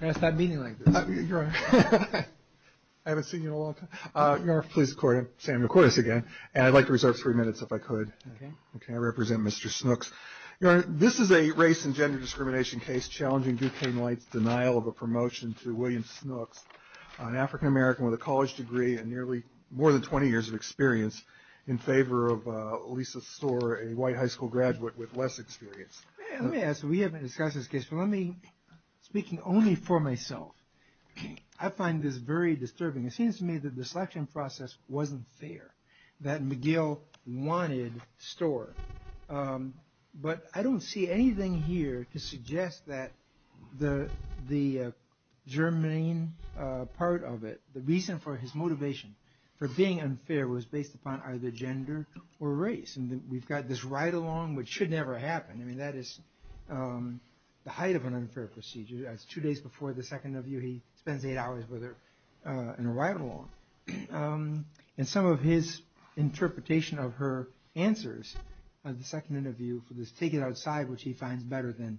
I'd like to reserve three minutes if I could. I represent Mr. Snooks. This is a race and gender discrimination case challenging Duquesne Light's denial of a promotion to William Snooks, an African American with a college degree and nearly more than 20 years of experience in favor of Lisa Storer, a white high school graduate with less experience. Let me ask you, we haven't discussed this case, but let me, speaking only for myself, I find this very disturbing. It seems to me that the selection process wasn't fair, that McGill wanted Storer. But I don't see anything here to suggest that the germane part of it, the reason for his motivation for being unfair was based upon either gender or race. And we've got this ride-along, which should never happen. I mean, that is the height of an unfair procedure. That's two days before the second interview. He spends eight hours with her in a ride-along. And some of his interpretation of her answers at the second interview for this take it outside, which he finds better than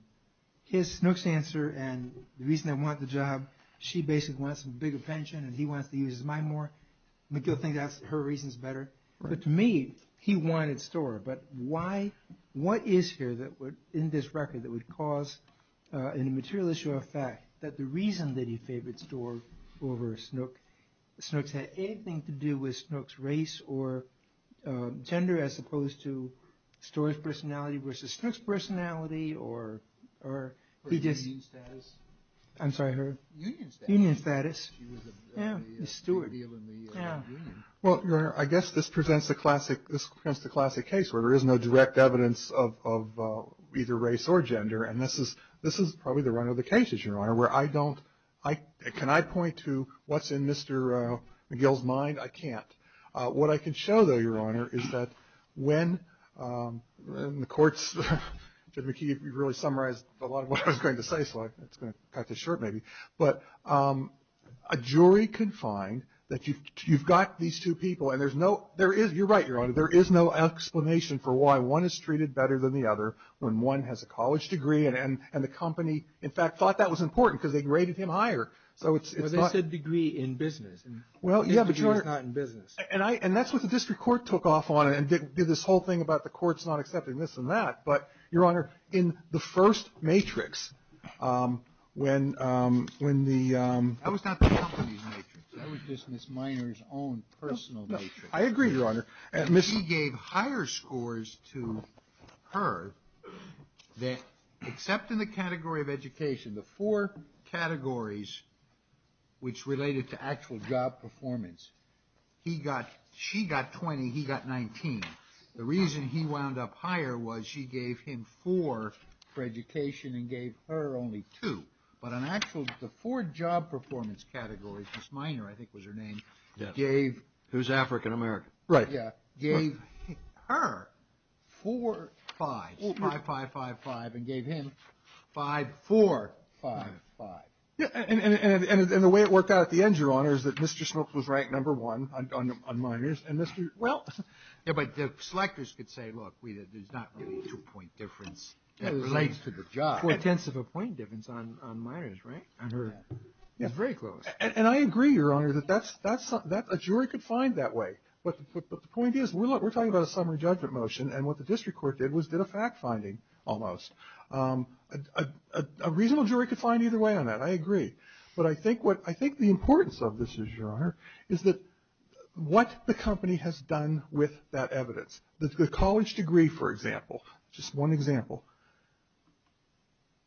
his, Snooks' answer and the reason I want the job, she basically wants a bigger pension and he wants to use his But to me, he wanted Storer. But why, what is here that would, in this record, that would cause a material issue of fact that the reason that he favored Storer over Snooks had anything to do with Snooks' race or gender as opposed to Storer's personality versus Snooks' personality or her union status. Well, Your Honor, I guess this presents the classic case where there is no direct evidence of either race or gender. And this is probably the run of the cases, Your Honor, where I don't, can I point to what's in Mr. McGill's mind? I can't. What I can show, though, Your Honor, is that when the courts, Judge McKee, you've really summarized a lot of what I was going to say. So it's going to cut to short, maybe. But a jury can find that you've got these two people and there's no, there is, you're right, Your Honor, there is no explanation for why one is treated better than the other when one has a college degree and the company, in fact, thought that was important because they graded him higher. So it's a degree in business. Well, yeah, but you're not in business. And I and that's what the district court took off on and did this whole thing about the courts not accepting this and that. But, Your Honor, in the first matrix, when, when the, that was not the company's matrix, that was just Ms. Miner's own personal matrix. I agree, Your Honor, Ms. He gave higher scores to her that, except in the category of education, the four categories which related to actual job performance, he got, she got 20, he got 19. The reason he wound up higher was she gave him four for education and gave her only two. But on actual, the four job performance categories, Ms. Miner, I think was her name, gave. Who's African American. Right. Yeah. Gave her four fives, five, five, five, five, and gave him five, four, five, five. And the way it worked out at the end, Your Honor, is that Mr. Smooks was ranked number one on Miner's and Mr., well. Yeah, but the selectors could say, look, there's not really a two point difference that relates to the job. Four tenths of a point difference on Miner's, right? I heard that. It's very close. And I agree, Your Honor, that that's, that's a jury could find that way. But the point is, look, we're talking about a summary judgment motion. And what the district court did was did a fact finding, almost, a reasonable jury could find either way on that. I agree. But I think what, I think the importance of this is, Your Honor, is that what the company has done with that evidence. The college degree, for example. Just one example.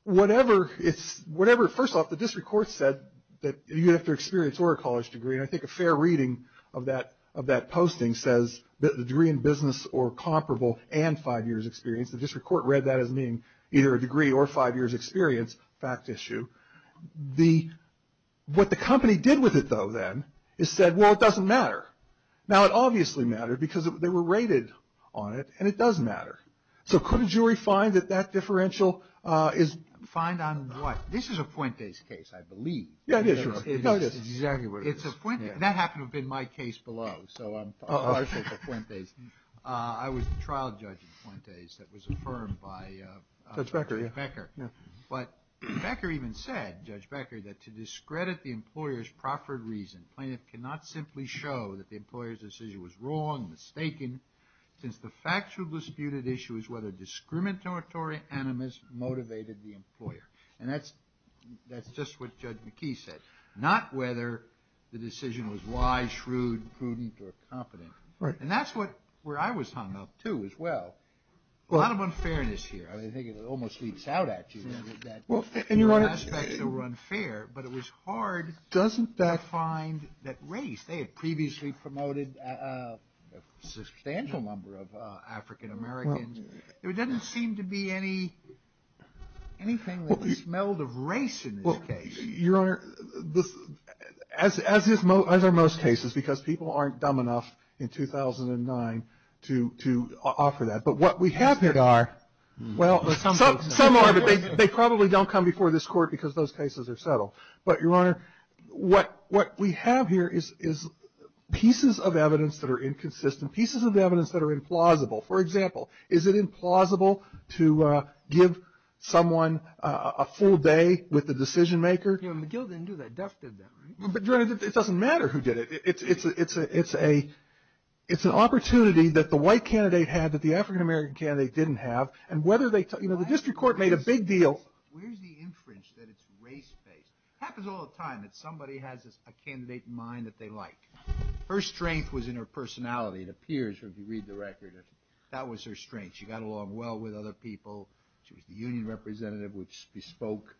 Whatever it's, whatever, first off, the district court said that you have to experience or a college degree. And I think a fair reading of that, of that posting says that the degree in business or comparable and five years experience. The district court read that as being either a degree or five years experience, fact issue. The, what the company did with it, though, then, is said, well, it doesn't matter. Now, it obviously mattered because they were rated on it. And it does matter. So, could a jury find that that differential is. Find on what? This is a Fuentes case, I believe. Yeah, it is, Your Honor. It is exactly what it is. It's a Fuentes, and that happened to have been my case below. So, I'm partial to Fuentes. I was the trial judge in Fuentes that was affirmed by. Judge Becker, yeah. Becker. But Becker even said, Judge Becker, that to discredit the employer's proffered reason, plaintiff cannot simply show that the employer's decision was wrong, mistaken, since the factual disputed issue is whether discriminatory animus motivated the employer. And that's, that's just what Judge McKee said. Not whether the decision was wise, shrewd, prudent, or competent. Right. And that's what, where I was hung up, too, as well. Well. A lot of unfairness here. I mean, I think it almost bleeds out at you, that. Well, and Your Honor. Aspects that were unfair, but it was hard. Doesn't that. To find that race. They had previously promoted a substantial number of African Americans. There doesn't seem to be any, anything that smelled of race in this case. Well, Your Honor, this, as, as is most, as are most cases. Because people aren't dumb enough in 2009 to, to offer that. But what we have here are. Well, some are, but they, they probably don't come before this court because those cases are settled. But, Your Honor, what, what we have here is, is pieces of evidence that are inconsistent. Pieces of evidence that are implausible. For example, is it implausible to give someone a full day with the decision maker? Yeah, McGill didn't do that. Duff did that, right? But, Your Honor, it doesn't matter who did it. It's a, it's a, it's an opportunity that the white candidate had that the African American candidate didn't have. And whether they, you know, the district court made a big deal. Where's the inference that it's race based? Happens all the time that somebody has a candidate in mind that they like. Her strength was in her personality. It appears, if you read the record, that was her strength. She got along well with other people. She was the union representative with bespoke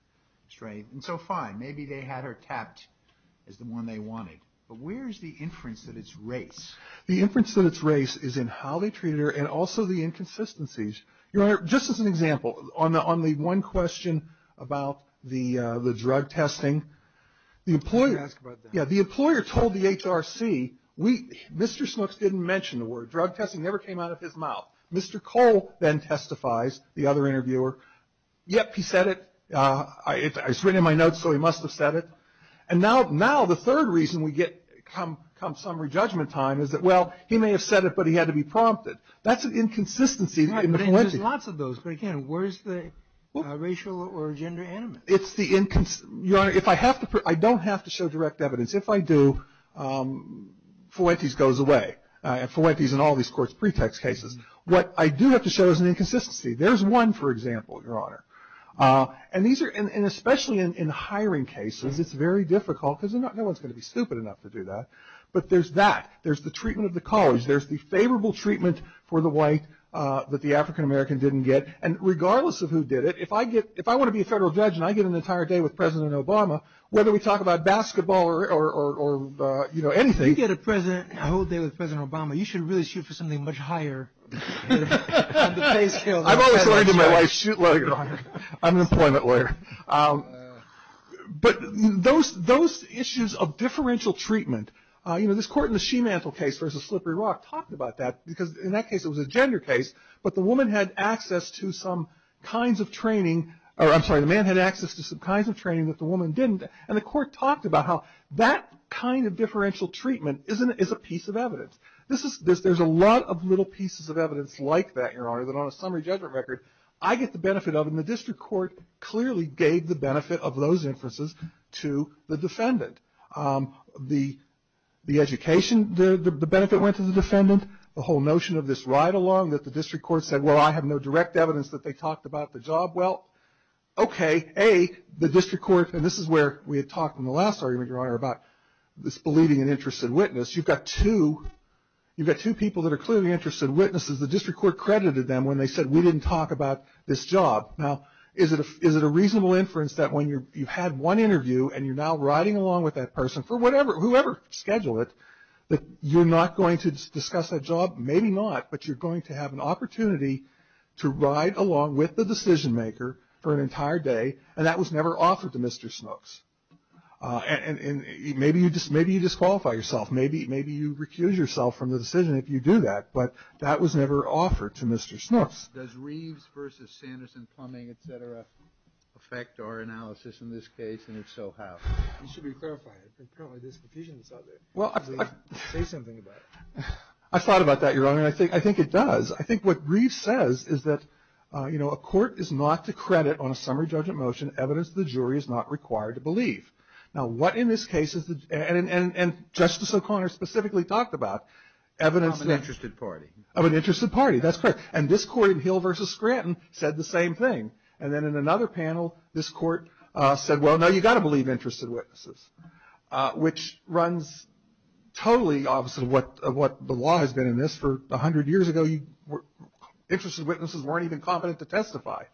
strength. And so fine, maybe they had her tapped as the one they wanted. But where's the inference that it's race? The inference that it's race is in how they treated her and also the inconsistencies. Your Honor, just as an example, on the, on the one question about the, the drug testing. The employer, yeah, the employer told the HRC, we, Mr. Smooks didn't mention the word, drug testing never came out of his mouth. Mr. Cole then testifies, the other interviewer. Yep, he said it, it's written in my notes, so he must have said it. And now, now the third reason we get come, come summary judgment time is that, well, he may have said it, but he had to be prompted. That's an inconsistency in the Fuentes. There's lots of those, but again, where's the racial or gender animus? It's the incons, your Honor, if I have to, I don't have to show direct evidence. If I do, Fuentes goes away. And Fuentes in all these courts pretext cases. What I do have to show is an inconsistency. There's one, for example, your Honor. And these are, and especially in hiring cases, it's very difficult, because no one's going to be stupid enough to do that. But there's that. There's the treatment of the college. There's the favorable treatment for the white that the African American didn't get. And regardless of who did it, if I get, if I want to be a federal judge and I get an entire day with President Obama, whether we talk about basketball or, or, or, or, you know, anything. You get a president, a whole day with President Obama, you should really shoot for something much higher on the pay scale. I've always learned in my life, shoot low, your Honor. I'm an employment lawyer. But those, those issues of differential treatment, you know, this court in the Shemantle case versus Slippery Rock talked about that. Because in that case, it was a gender case. But the woman had access to some kinds of training, or I'm sorry, the man had access to some kinds of training that the woman didn't. And the court talked about how that kind of differential treatment is a piece of evidence. This is, there's a lot of little pieces of evidence like that, your Honor, that on a summary judgment record, I get the benefit of. And the district court clearly gave the benefit of those inferences to the defendant. The, the education, the, the benefit went to the defendant. The whole notion of this ride-along that the district court said, well, I have no direct evidence that they talked about the job. Well, okay, A, the district court, and this is where we had talked in the last argument, your Honor, about this believing an interested witness. You've got two, you've got two people that are clearly interested witnesses. The district court credited them when they said, we didn't talk about this job. Now, is it a, is it a reasonable inference that when you're, you've had one interview, and you're now riding along with that person for whatever, whoever scheduled it, that you're not going to discuss that job? Maybe not, but you're going to have an opportunity to ride along with the decision maker for an entire day, and that was never offered to Mr. Smooks. And, and maybe you just, maybe you disqualify yourself. Maybe, maybe you recuse yourself from the decision if you do that. But, that was never offered to Mr. Smooks. Does Reeves versus Sanderson plumbing, et cetera, affect our analysis in this case, and if so, how? You should be clarifying it. Apparently there's confusion that's out there. Well, I, I, I thought about that, your Honor, and I think, I think it does. I think what Reeves says is that, you know, a court is not to credit on a summary judgment motion evidence the jury is not required to believe. Now, what in this case is the, and, and, and Justice O'Connor specifically talked about. Evidence of an interested party. Of an interested party, that's correct. And this court in Hill versus Scranton said the same thing. And then in another panel, this court said, well, no, you've got to believe interested witnesses. Which runs totally opposite of what, of what the law has been in this for a hundred years ago. You were, interested witnesses weren't even competent to testify.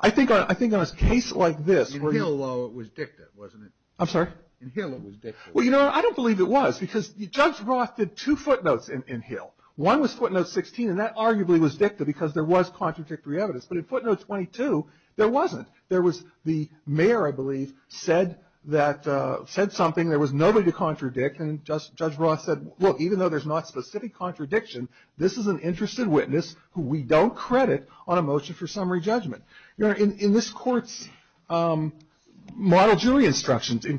I think on, I think on a case like this. In Hill law it was dicta, wasn't it? I'm sorry? In Hill it was dicta. Well, you know, I don't believe it was. Because Judge Roth did two footnotes in, in Hill. One was footnote 16, and that arguably was dicta, because there was contradictory evidence. But in footnote 22, there wasn't. There was the mayor, I believe, said that said something. There was nobody to contradict. And Judge, Judge Roth said, look, even though there's not specific contradiction, this is an interested witness who we don't credit on a motion for summary judgment. Your Honor, in, in this court's model jury instructions in,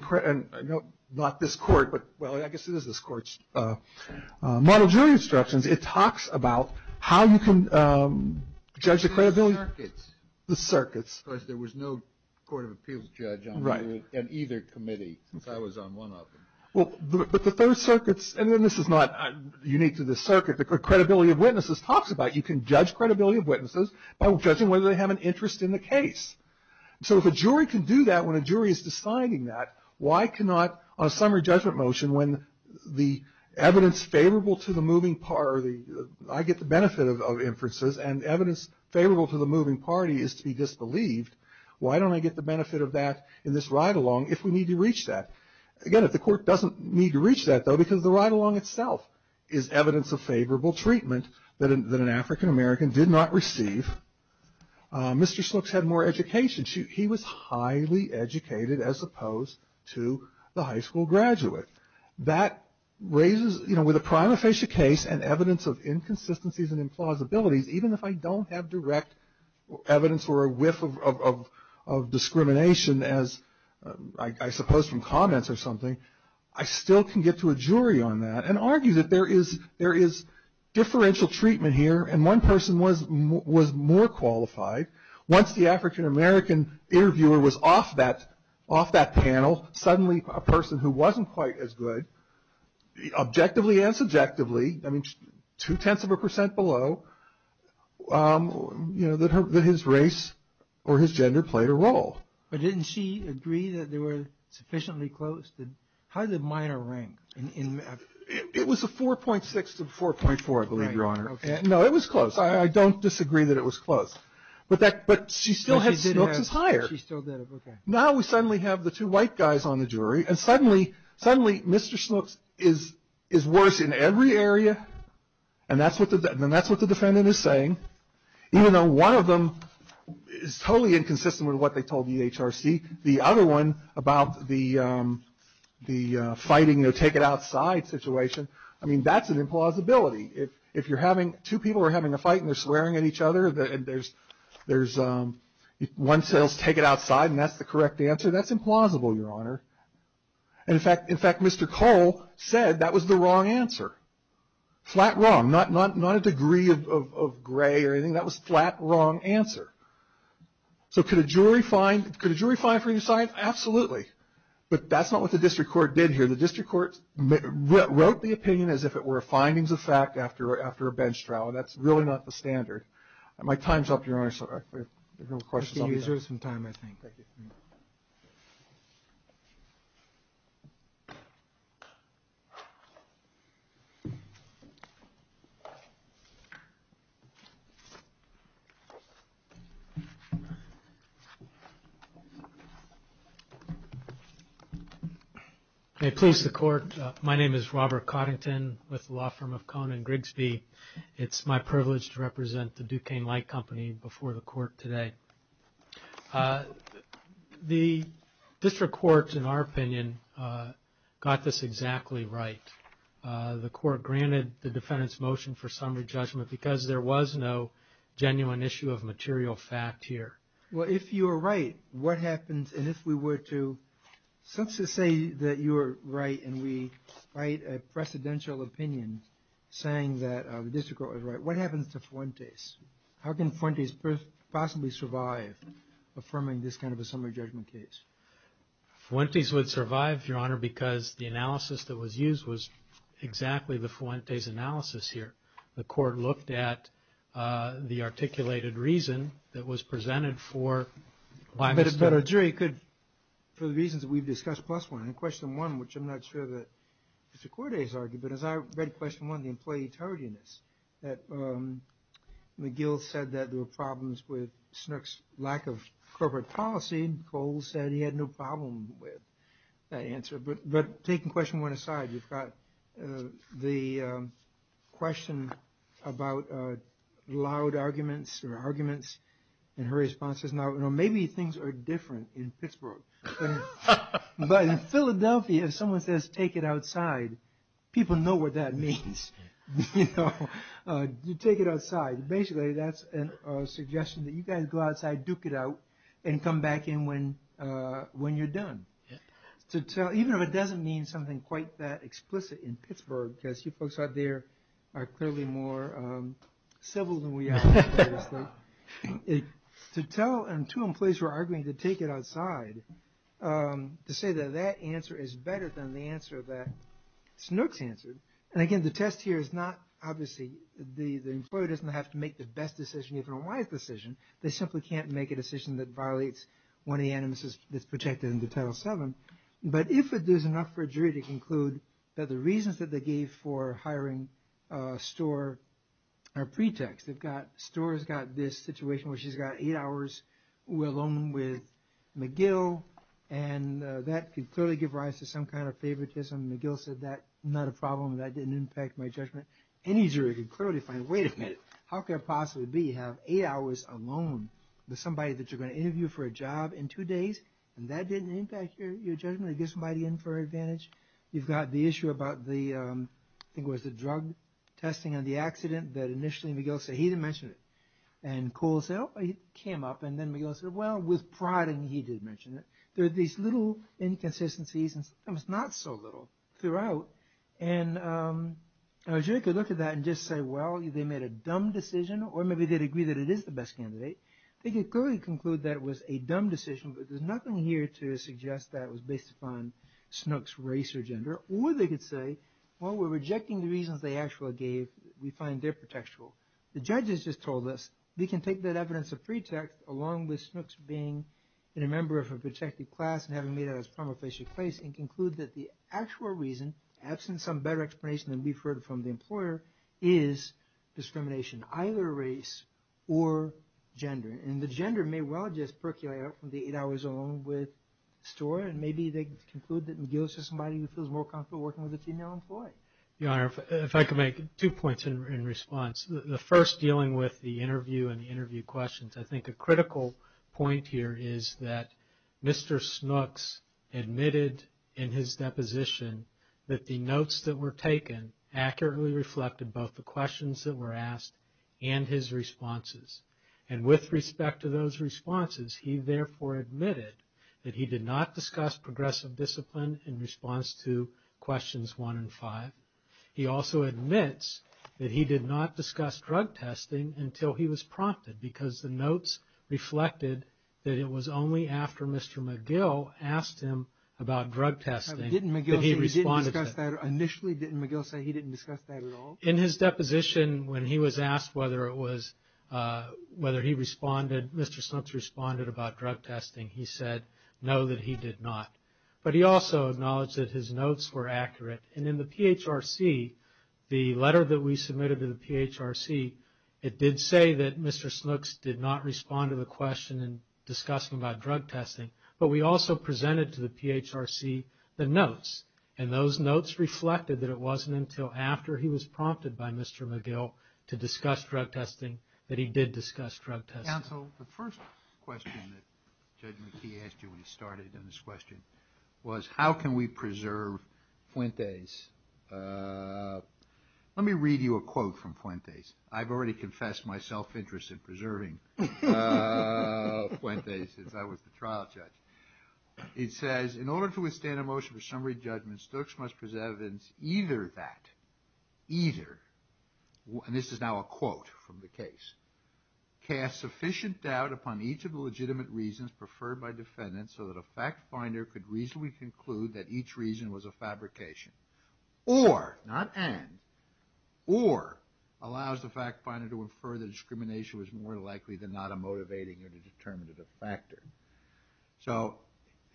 not this court, but, well, I guess it is this court's model jury instructions. It talks about how you can judge the credibility. The circuits. The circuits. Because there was no Court of Appeals judge on either committee, since I was on one of them. Well, but the third circuits, and then this is not unique to the circuit. The credibility of witnesses talks about, you can judge credibility of witnesses by judging whether they have an interest in the case. So if a jury can do that when a jury is deciding that, why cannot a summary judgment motion when the evidence favorable to the moving party, I get the benefit of, of inferences. And evidence favorable to the moving party is to be disbelieved. Why don't I get the benefit of that in this ride-along if we need to reach that? Again, if the court doesn't need to reach that, though, because the ride-along itself is evidence of favorable treatment that an, that an African American did not receive. Mr. Slooks had more education. She, he was highly educated as opposed to the high school graduate. That raises, you know, with a prima facie case and evidence of inconsistencies and implausibilities, even if I don't have direct evidence or a whiff of, of, of discrimination as I, I suppose from comments or something, I still can get to a jury on that and argue that there is, there is differential treatment here. And one person was, was more qualified. Once the African American interviewer was off that, off that panel, suddenly a person who wasn't quite as good, objectively and subjectively, I mean, two-tenths of a percent below, you know, that her, that his race or his gender played a role. But didn't she agree that they were sufficiently close to, how did the minor rank in, in? It was a 4.6 to 4.4, I believe, Your Honor. No, it was close. I, I don't disagree that it was close. But that, but she still had Snooks as higher. She still did, okay. Now we suddenly have the two white guys on the jury and suddenly, suddenly Mr. Snooks is, is worse in every area. And that's what the, and that's what the defendant is saying. Even though one of them is totally inconsistent with what they told the HRC, the other one about the, the fighting, you know, take it outside situation. I mean, that's an implausibility. If, if you're having, two people are having a fight and they're swearing at each other, and there's, there's one says take it outside, and that's the correct answer. That's implausible, Your Honor. And in fact, in fact, Mr. Cole said that was the wrong answer. Flat wrong. Not, not, not a degree of, of, of gray or anything. That was flat wrong answer. So could a jury find, could a jury find for your side? Absolutely. But that's not what the district court did here. The district court wrote the opinion as if it were findings of fact after, after a bench trial. That's really not the standard. My time's up, Your Honor, so if there are no questions. You can use your time, I think. Thank you. May it please the court. My name is Robert Coddington with the law firm of Kohn and Grigsby. It's my privilege to represent the Duquesne Light Company before the court today. The district court, in our opinion, got this exactly right. The court granted the defendant's motion for summary judgment, because there was no genuine issue of material fact here. Well, if you're right, what happens, and if we were to say that you're right, and we write a precedential opinion saying that the district court was right, what happens to Fuentes? How can Fuentes possibly survive affirming this kind of a summary judgment case? Fuentes would survive, Your Honor, because the analysis that was used was exactly the Fuentes analysis here. The court looked at the articulated reason that was presented for. But a jury could, for the reasons that we've discussed plus one, in question one, which I'm not sure that Mr. Corday's argued, but as I read question one, the employee tardiness. That McGill said that there were problems with Snook's lack of corporate policy. Cole said he had no problem with that answer. But taking question one aside, we've got the question about loud arguments, or arguments, and her response is, now, maybe things are different in Pittsburgh. But in Philadelphia, if someone says, take it outside, people know what that means. You know, you take it outside. Basically, that's a suggestion that you guys go outside, duke it out, and come back in when you're done. To tell, even if it doesn't mean something quite that explicit in Pittsburgh, because you folks out there are clearly more civil than we are, obviously. To tell, and two employees were arguing to take it outside, to say that that answer is better than the answer that Snook's answered. And again, the test here is not, obviously, the employee doesn't have to make the best decision, even a wise decision. They simply can't make a decision that violates one of the animuses that's projected into Title VII. But if there's enough for a jury to conclude that the reasons that they gave for hiring Storer are pretext. They've got, Storer's got this situation where she's got eight hours alone with McGill, and that could clearly give rise to some kind of favoritism. McGill said, that's not a problem, that didn't impact my judgment. Any jury could clearly find, wait a minute, how could it possibly be you have eight hours alone with somebody that you're going to interview for a job in two days, and that didn't impact your judgment? It gives somebody an inferred advantage? You've got the issue about the, I think it was the drug testing and the accident that initially McGill said, he didn't mention it. And Cole said, oh, it came up. And then McGill said, well, with prodding, he did mention it. There are these little inconsistencies, and sometimes not so little, throughout. And a jury could look at that and just say, well, they made a dumb decision, or maybe they'd agree that it is the best candidate. They could clearly conclude that it was a dumb decision, but there's nothing here to suggest that it was based upon Snook's race or gender. Or they could say, well, we're rejecting the reasons they actually gave. We find they're pretextual. The judges just told us, we can take that evidence of pretext along with Snook's being a member of a protected class and having made it as a promulgation case, and conclude that the actual reason, absent some better explanation than we've heard from the employer, is discrimination, either race or gender. And the gender may well just percolate out from the eight hours alone with the story. And maybe they conclude that McGill is just somebody who feels more comfortable working with a female employee. Your Honor, if I could make two points in response. The first, dealing with the interview and the interview questions. I think a critical point here is that Mr. Snooks admitted in his deposition that the notes that were taken accurately reflected both the questions that were asked and his responses. And with respect to those responses, he therefore admitted that he did not discuss progressive discipline in response to questions one and five. He also admits that he did not discuss drug testing until he was prompted, because the notes reflected that it was only after Mr. McGill asked him about drug testing that he responded to that. Initially, didn't McGill say he didn't discuss that at all? In his deposition, when he was asked whether he responded, Mr. Snooks responded about drug testing, he said no, that he did not. But he also acknowledged that his notes were accurate. And in the PHRC, the letter that we submitted to the PHRC, it did say that Mr. Snooks did not respond to the question in discussing about drug testing. But we also presented to the PHRC the notes. And those notes reflected that it wasn't until after he was prompted by Mr. McGill to discuss drug testing that he did discuss drug testing. Counsel, the first question that Judge McKee asked you when he started in this question was how can we preserve Fuentes? Let me read you a quote from Fuentes. I've already confessed my self-interest in preserving Fuentes since I was the trial judge. It says, in order to withstand a motion for summary judgment, Stooks must preserve evidence either that, either, and this is now a quote from the case, cast sufficient doubt upon each of the legitimate reasons preferred by defendants so that a fact finder could reasonably conclude that each reason was a fabrication. Or, not and, or allows the fact finder to infer that discrimination was more likely than not a motivating or determinative factor. So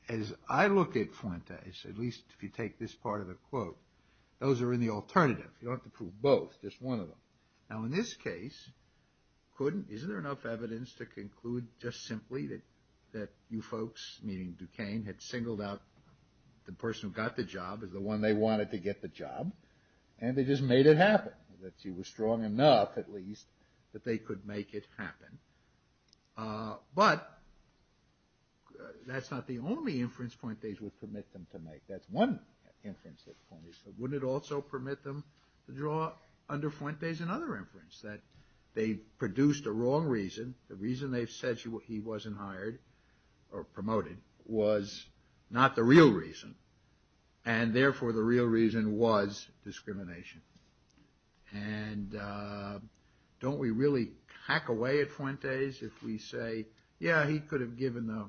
as I look at Fuentes, at least if you take this part of the quote, those are in the alternative. You don't have to prove both, just one of them. Now in this case, couldn't, isn't there enough evidence to conclude just simply that you folks, meaning Duquesne, had singled out the person who got the job as the one they wanted to get the job, and they just made it happen? That she was strong enough, at least, that they could make it happen. But that's not the only inference Fuentes would permit them to make. That's one inference that Fuentes said. Wouldn't it also permit them to draw under Fuentes another inference? That they produced a wrong reason. The reason they said he wasn't hired or promoted was not the real reason. And therefore, the real reason was discrimination. And don't we really hack away at Fuentes if we say, yeah, he could have given the,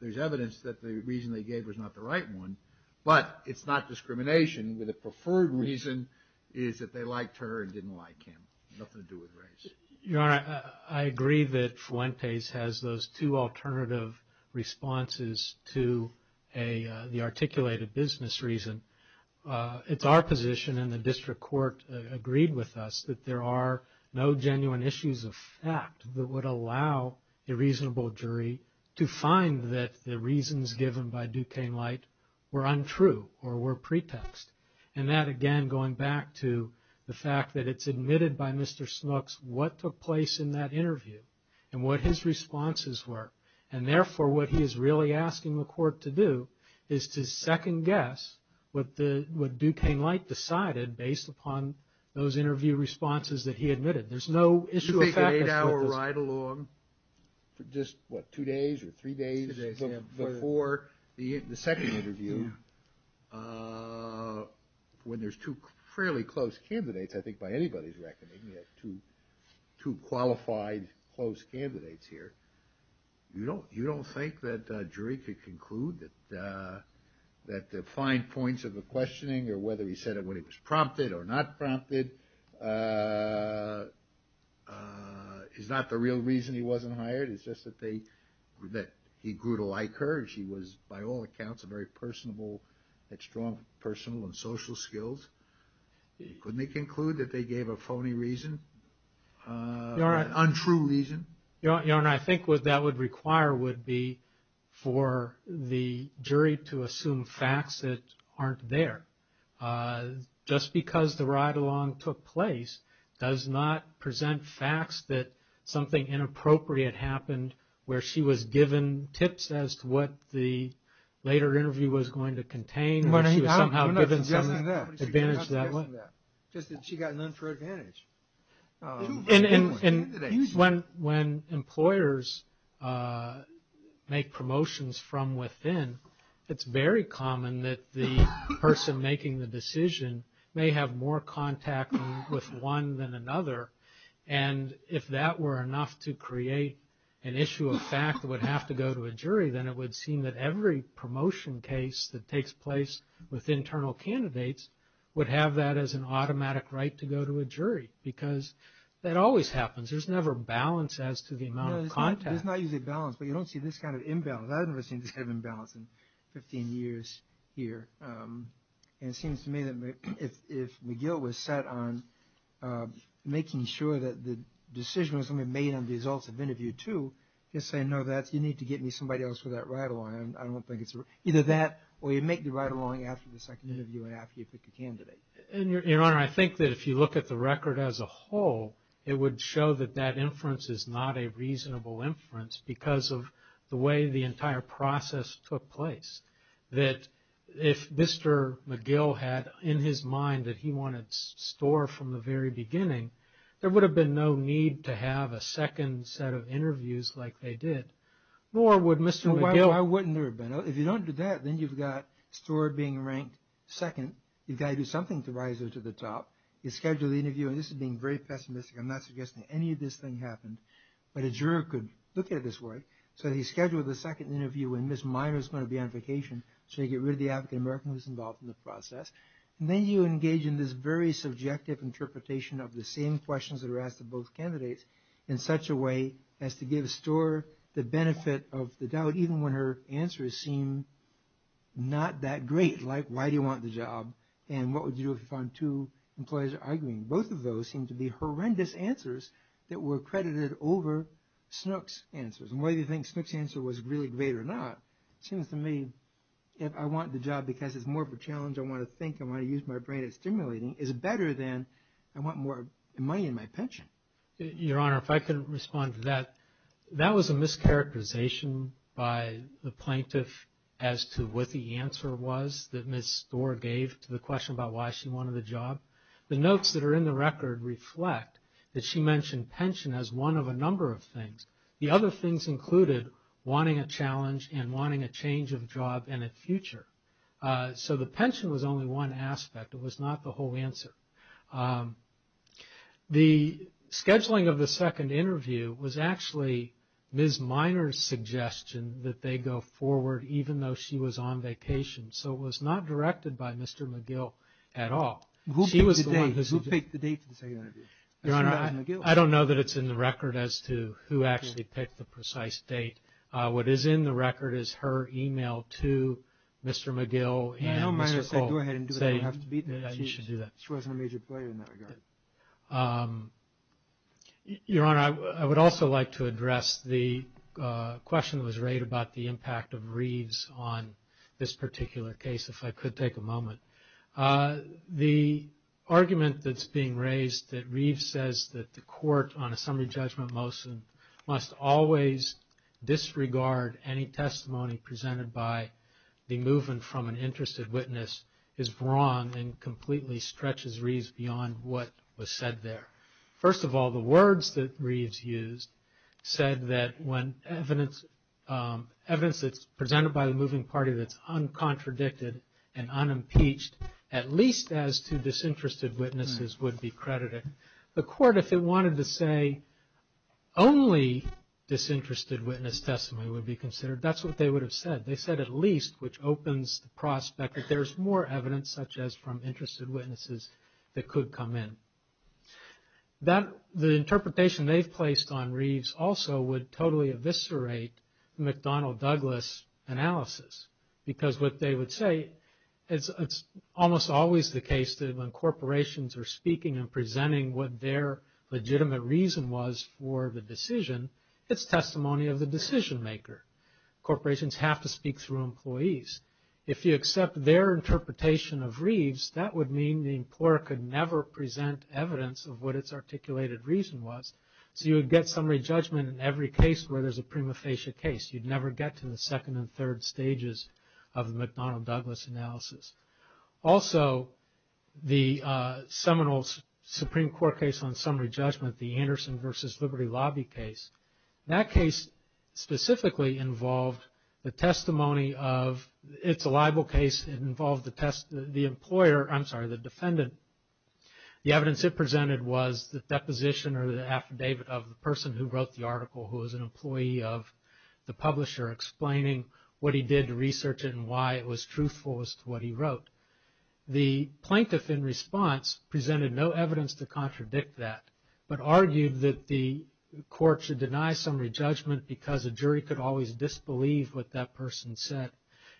there's evidence that the reason they gave was not the right one, but it's not discrimination. The preferred reason is that they liked her and didn't like him. Nothing to do with race. Your Honor, I agree that Fuentes has those two alternative responses to the articulated business reason. It's our position, and the district court agreed with us, that there are no genuine issues of fact that would allow a reasonable jury to find that the reasons given by Duquesne Light were untrue or were pretext. And that, again, going back to the fact that it's admitted by Mr. Snooks what took place in that interview and what his responses were. And therefore, what he is really asking the court to do is to second guess what Duquesne Light decided based upon those interview responses that he admitted. There's no issue of fact that's what this. Ride along for just, what, two days or three days before the second interview. When there's two fairly close candidates, I think by anybody's reckoning, two qualified close candidates here. You don't, you don't think that a jury could conclude that the fine points of the questioning or whether he said it when it was prompted or not prompted is not the real reason he wasn't hired. It's just that they, that he grew to like her. She was, by all accounts, a very personable, had strong personal and social skills. Couldn't they conclude that they gave a phony reason, an untrue reason? Your Honor, I think what that would require would be for the jury to assume facts that aren't there. Just because the ride along took place does not present facts that something inappropriate happened where she was given tips as to what the later interview was going to contain. She was somehow given some advantage that way. Just that she got none for advantage. And when employers make promotions from within, it's very common that the person making the decision may have more contact with one than another. And if that were enough to create an issue of fact that would have to go to a jury, then it would seem that every promotion case that takes place with internal candidates would have that as an automatic right to go to a jury. Because that always happens. There's never balance as to the amount of contact. There's not usually balance, but you don't see this kind of imbalance. I've never seen this kind of imbalance in 15 years here. And it seems to me that if McGill was set on making sure that the decision was going to be made on the results of interview two, you're saying, no, that's you need to get me somebody else for that ride along. I don't think it's either that or you make the ride along after the second interview and after you pick a candidate. And Your Honor, I think that if you look at the record as a whole, it would show that that inference is not a reasonable inference because of the way the entire process took place. That if Mr. McGill had in his mind that he wanted Storer from the very beginning, there would have been no need to have a second set of interviews like they did. Nor would Mr. McGill. Why wouldn't there have been? If you don't do that, then you've got Storer being ranked second. You've got to do something to rise her to the top. You schedule the interview. And this is being very pessimistic. I'm not suggesting any of this thing happened. But a juror could look at this work. So he scheduled the second interview and Ms. Minor's going to be on vacation. So you get rid of the African-American who's involved in the process. And then you engage in this very subjective interpretation of the same questions that are asked of both candidates in such a way as to give Storer the benefit of the doubt, even when her answers seem not that great. Like, why do you want the job? And what would you do if you found two employees are arguing? Both of those seem to be horrendous answers that were credited over Snook's answers. And whether you think Snook's answer was really great or not, it seems to me, if I want the job because it's more of a challenge, I want to think, I want to use my brain at stimulating, is better than I want more money in my pension. Your Honor, if I could respond to that. That was a mischaracterization by the plaintiff as to what the answer was that Ms. Storer gave to the question about why she wanted the job. The notes that are in the record reflect that she mentioned pension as one of a number of things. The other things included wanting a challenge and wanting a change of job and a future. So the pension was only one aspect. It was not the whole answer. The scheduling of the second interview was actually Ms. Miner's suggestion that they go forward even though she was on vacation. So it was not directed by Mr. McGill at all. Who picked the date for the second interview? Your Honor, I don't know that it's in the record as to who actually picked the precise date. What is in the record is her email to Mr. McGill and Mr. Cole saying that you should do that. She wasn't a major player in that regard. Your Honor, I would also like to address the question that was raised about the impact of Reeves The argument that's being raised that Reeves says that the court on a summary judgment motion must always disregard any testimony presented by the movement from an interested witness is wrong and completely stretches Reeves beyond what was said there. First of all, the words that Reeves used said that when evidence that's presented by the moving party that's uncontradicted and unimpeached, at least as to disinterested witnesses, would be credited. The court, if it wanted to say only disinterested witness testimony would be considered, that's what they would have said. They said at least, which opens the prospect that there's more evidence such as from interested witnesses that could come in. The interpretation they've placed on Reeves also would totally eviscerate McDonnell Douglas analysis because what they would say is it's almost always the case that when corporations are speaking and presenting what their legitimate reason was for the decision, it's testimony of the decision maker. Corporations have to speak through employees. If you accept their interpretation of Reeves, that would mean the employer could never present evidence of what its articulated reason was. So you would get summary judgment in every case where there's a prima facie case. You'd never get to the second and third stages of the McDonnell Douglas analysis. Also, the seminal Supreme Court case on summary judgment, the Anderson versus Liberty Lobby case, that case specifically involved the testimony of, it's a libel case, it involved the employer, I'm sorry, the defendant. The evidence it presented was the deposition or the affidavit of the person who wrote the article who was an employee of the publisher explaining what he did to research it and why it was truthful as to what he wrote. The plaintiff in response presented no evidence to contradict that, but argued that the court should deny summary judgment because a jury could always disbelieve what that person said.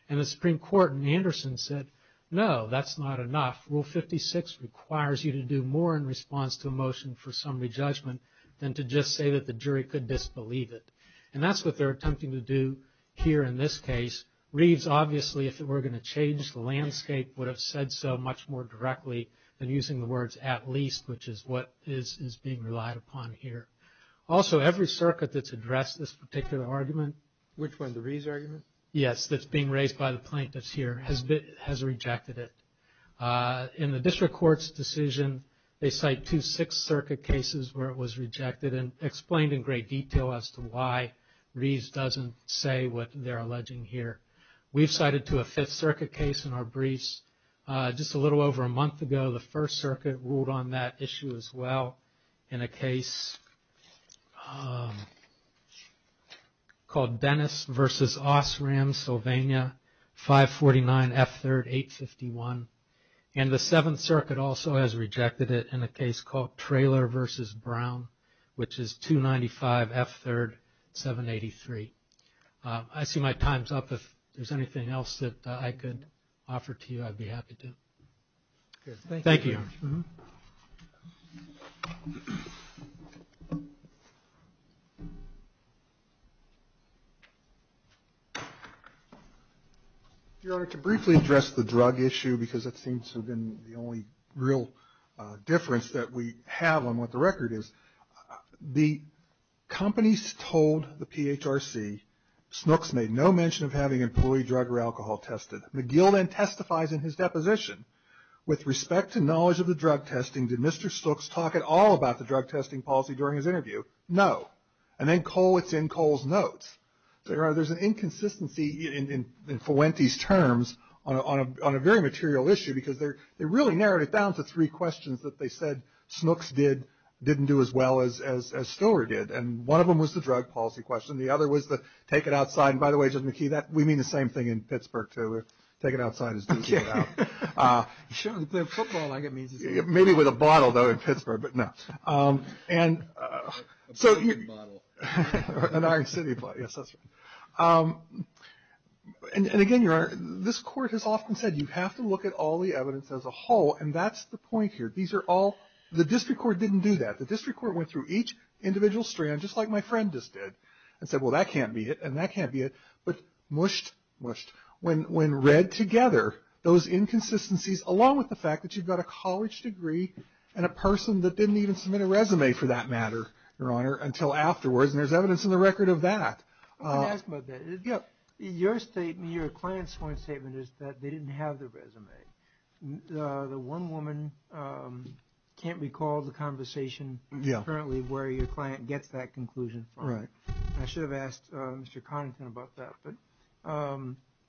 And the Supreme Court in Anderson said, no, that's not enough. Rule 56 requires you to do more in response to a motion for summary judgment than to just say that the jury could disbelieve it. And that's what they're attempting to do here in this case. Reeves, obviously, if it were going to change the landscape, would have said so much more directly than using the words at least, which is what is being relied upon here. Also, every circuit that's addressed this particular argument. Which one, the Reeves argument? Yes, that's being raised by the plaintiffs here, has rejected it. In the district court's decision, they cite two Sixth Circuit cases where it was rejected and explained in great detail as to why Reeves doesn't say what they're alleging here. We've cited to a Fifth Circuit case in our briefs just a little over a month ago. The First Circuit ruled on that issue as well in a case called Dennis versus Osram, Pennsylvania, 549 F3rd 851. And the Seventh Circuit also has rejected it in a case called Trailer versus Brown, which is 295 F3rd 783. I see my time's up. If there's anything else that I could offer to you, I'd be happy to. Thank you. Your Honor, to briefly address the drug issue, because it seems to have been the only real difference that we have on what the record is. The companies told the PHRC Snooks made no mention of having employee drug or alcohol tested. McGill then testifies in his deposition, with respect to knowledge of the drug testing, did Mr. Snooks talk at all about the drug testing policy during his interview? No. And then Cole, it's in Cole's notes. So, Your Honor, there's an inconsistency in Fuente's terms on a very material issue, because they really narrowed it down to three questions that they said Snooks did, didn't do as well as Stoer did. And one of them was the drug policy question. The other was the take it outside. And by the way, Judge McKee, we mean the same thing in Pittsburgh, too. Take it outside as do take it out. Sure. The football, I guess, means the same thing. And so you. A bottle. An Iron City bottle, yes, that's right. And again, Your Honor, this court has often said you have to look at all the evidence as a whole, and that's the point here. These are all, the district court didn't do that. The district court went through each individual strand, just like my friend just did, and said, well, that can't be it, and that can't be it. But mushed, mushed, when read together, those inconsistencies along with the fact that you've got a college degree and a person that didn't even submit a resume for that matter, Your Honor, until afterwards. And there's evidence in the record of that. I was going to ask about that. Yeah. Your statement, your client's point statement is that they didn't have the resume. The one woman can't recall the conversation currently where your client gets that conclusion from. Right. I should have asked Mr. Connaughton about that, but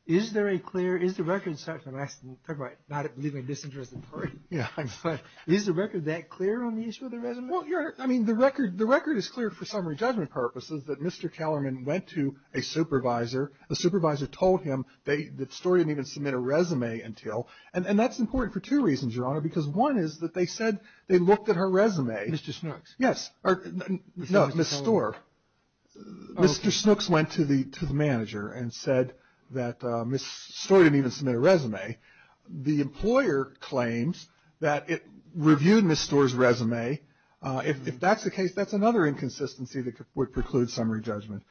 is there a clear, is the record such, and I'm not leaving a disinterested party. Yeah, I'm sorry. Is the record that clear on the issue of the resume? Well, Your Honor, I mean, the record is clear for summary judgment purposes that Mr. Kellerman went to a supervisor. The supervisor told him that Storer didn't even submit a resume until, and that's important for two reasons, Your Honor, because one is that they said they looked at her resume. Mr. Snooks. Yes. Or, no, Ms. Storer. Mr. Snooks went to the manager and said that Ms. Storer didn't even submit a resume. The employer claims that it reviewed Ms. Storer's resume. If that's the case, that's another inconsistency that would preclude summary judgment.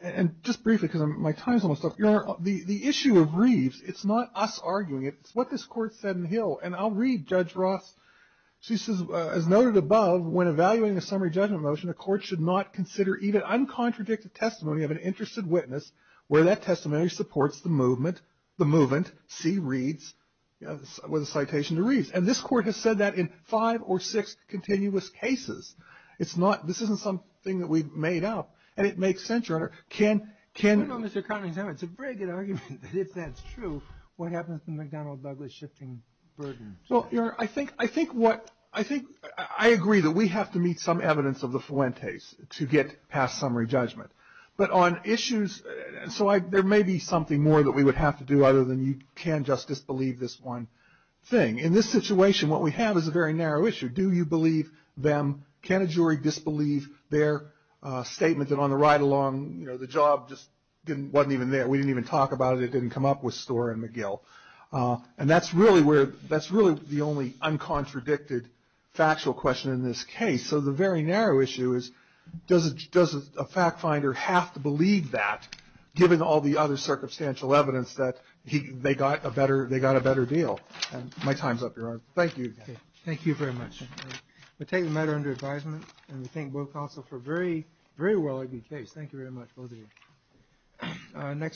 And just briefly, because my time's almost up, Your Honor, the issue of Reeves, it's not us arguing it, it's what this court said in Hill, and I'll read Judge Ross. She says, as noted above, when evaluating a summary judgment motion, a court should not consider even uncontradicted testimony of an interested witness where that testimony supports the movement, see Reeves, with a citation to Reeves. And this court has said that in five or six continuous cases. It's not, this isn't something that we've made up, and it makes sense, Your Honor. Can, can. No, no, Mr. Connolly, it's a very good argument that if that's true, what happens to McDonnell Douglas shifting burden? Well, Your Honor, I think, I think what, I think, I agree that we have to meet some evidence of the Fuentes to get past summary judgment. But on issues, so I, there may be something more that we would have to do other than you can't just disbelieve this one thing. In this situation, what we have is a very narrow issue. Do you believe them? Can a jury disbelieve their statement that on the ride along, you know, the job just didn't, wasn't even there. We didn't even talk about it. It didn't come up with Storer and McGill. And that's really where, that's really the only uncontradicted factual question in this case. So the very narrow issue is, does a, does a fact finder have to believe that, given all the other circumstantial evidence that he, they got a better, they got a better deal? And my time's up, Your Honor. Thank you. Thank you very much. We take the matter under advisement, and we thank both counsel for a very, very well argued case. Thank you very much, both of you.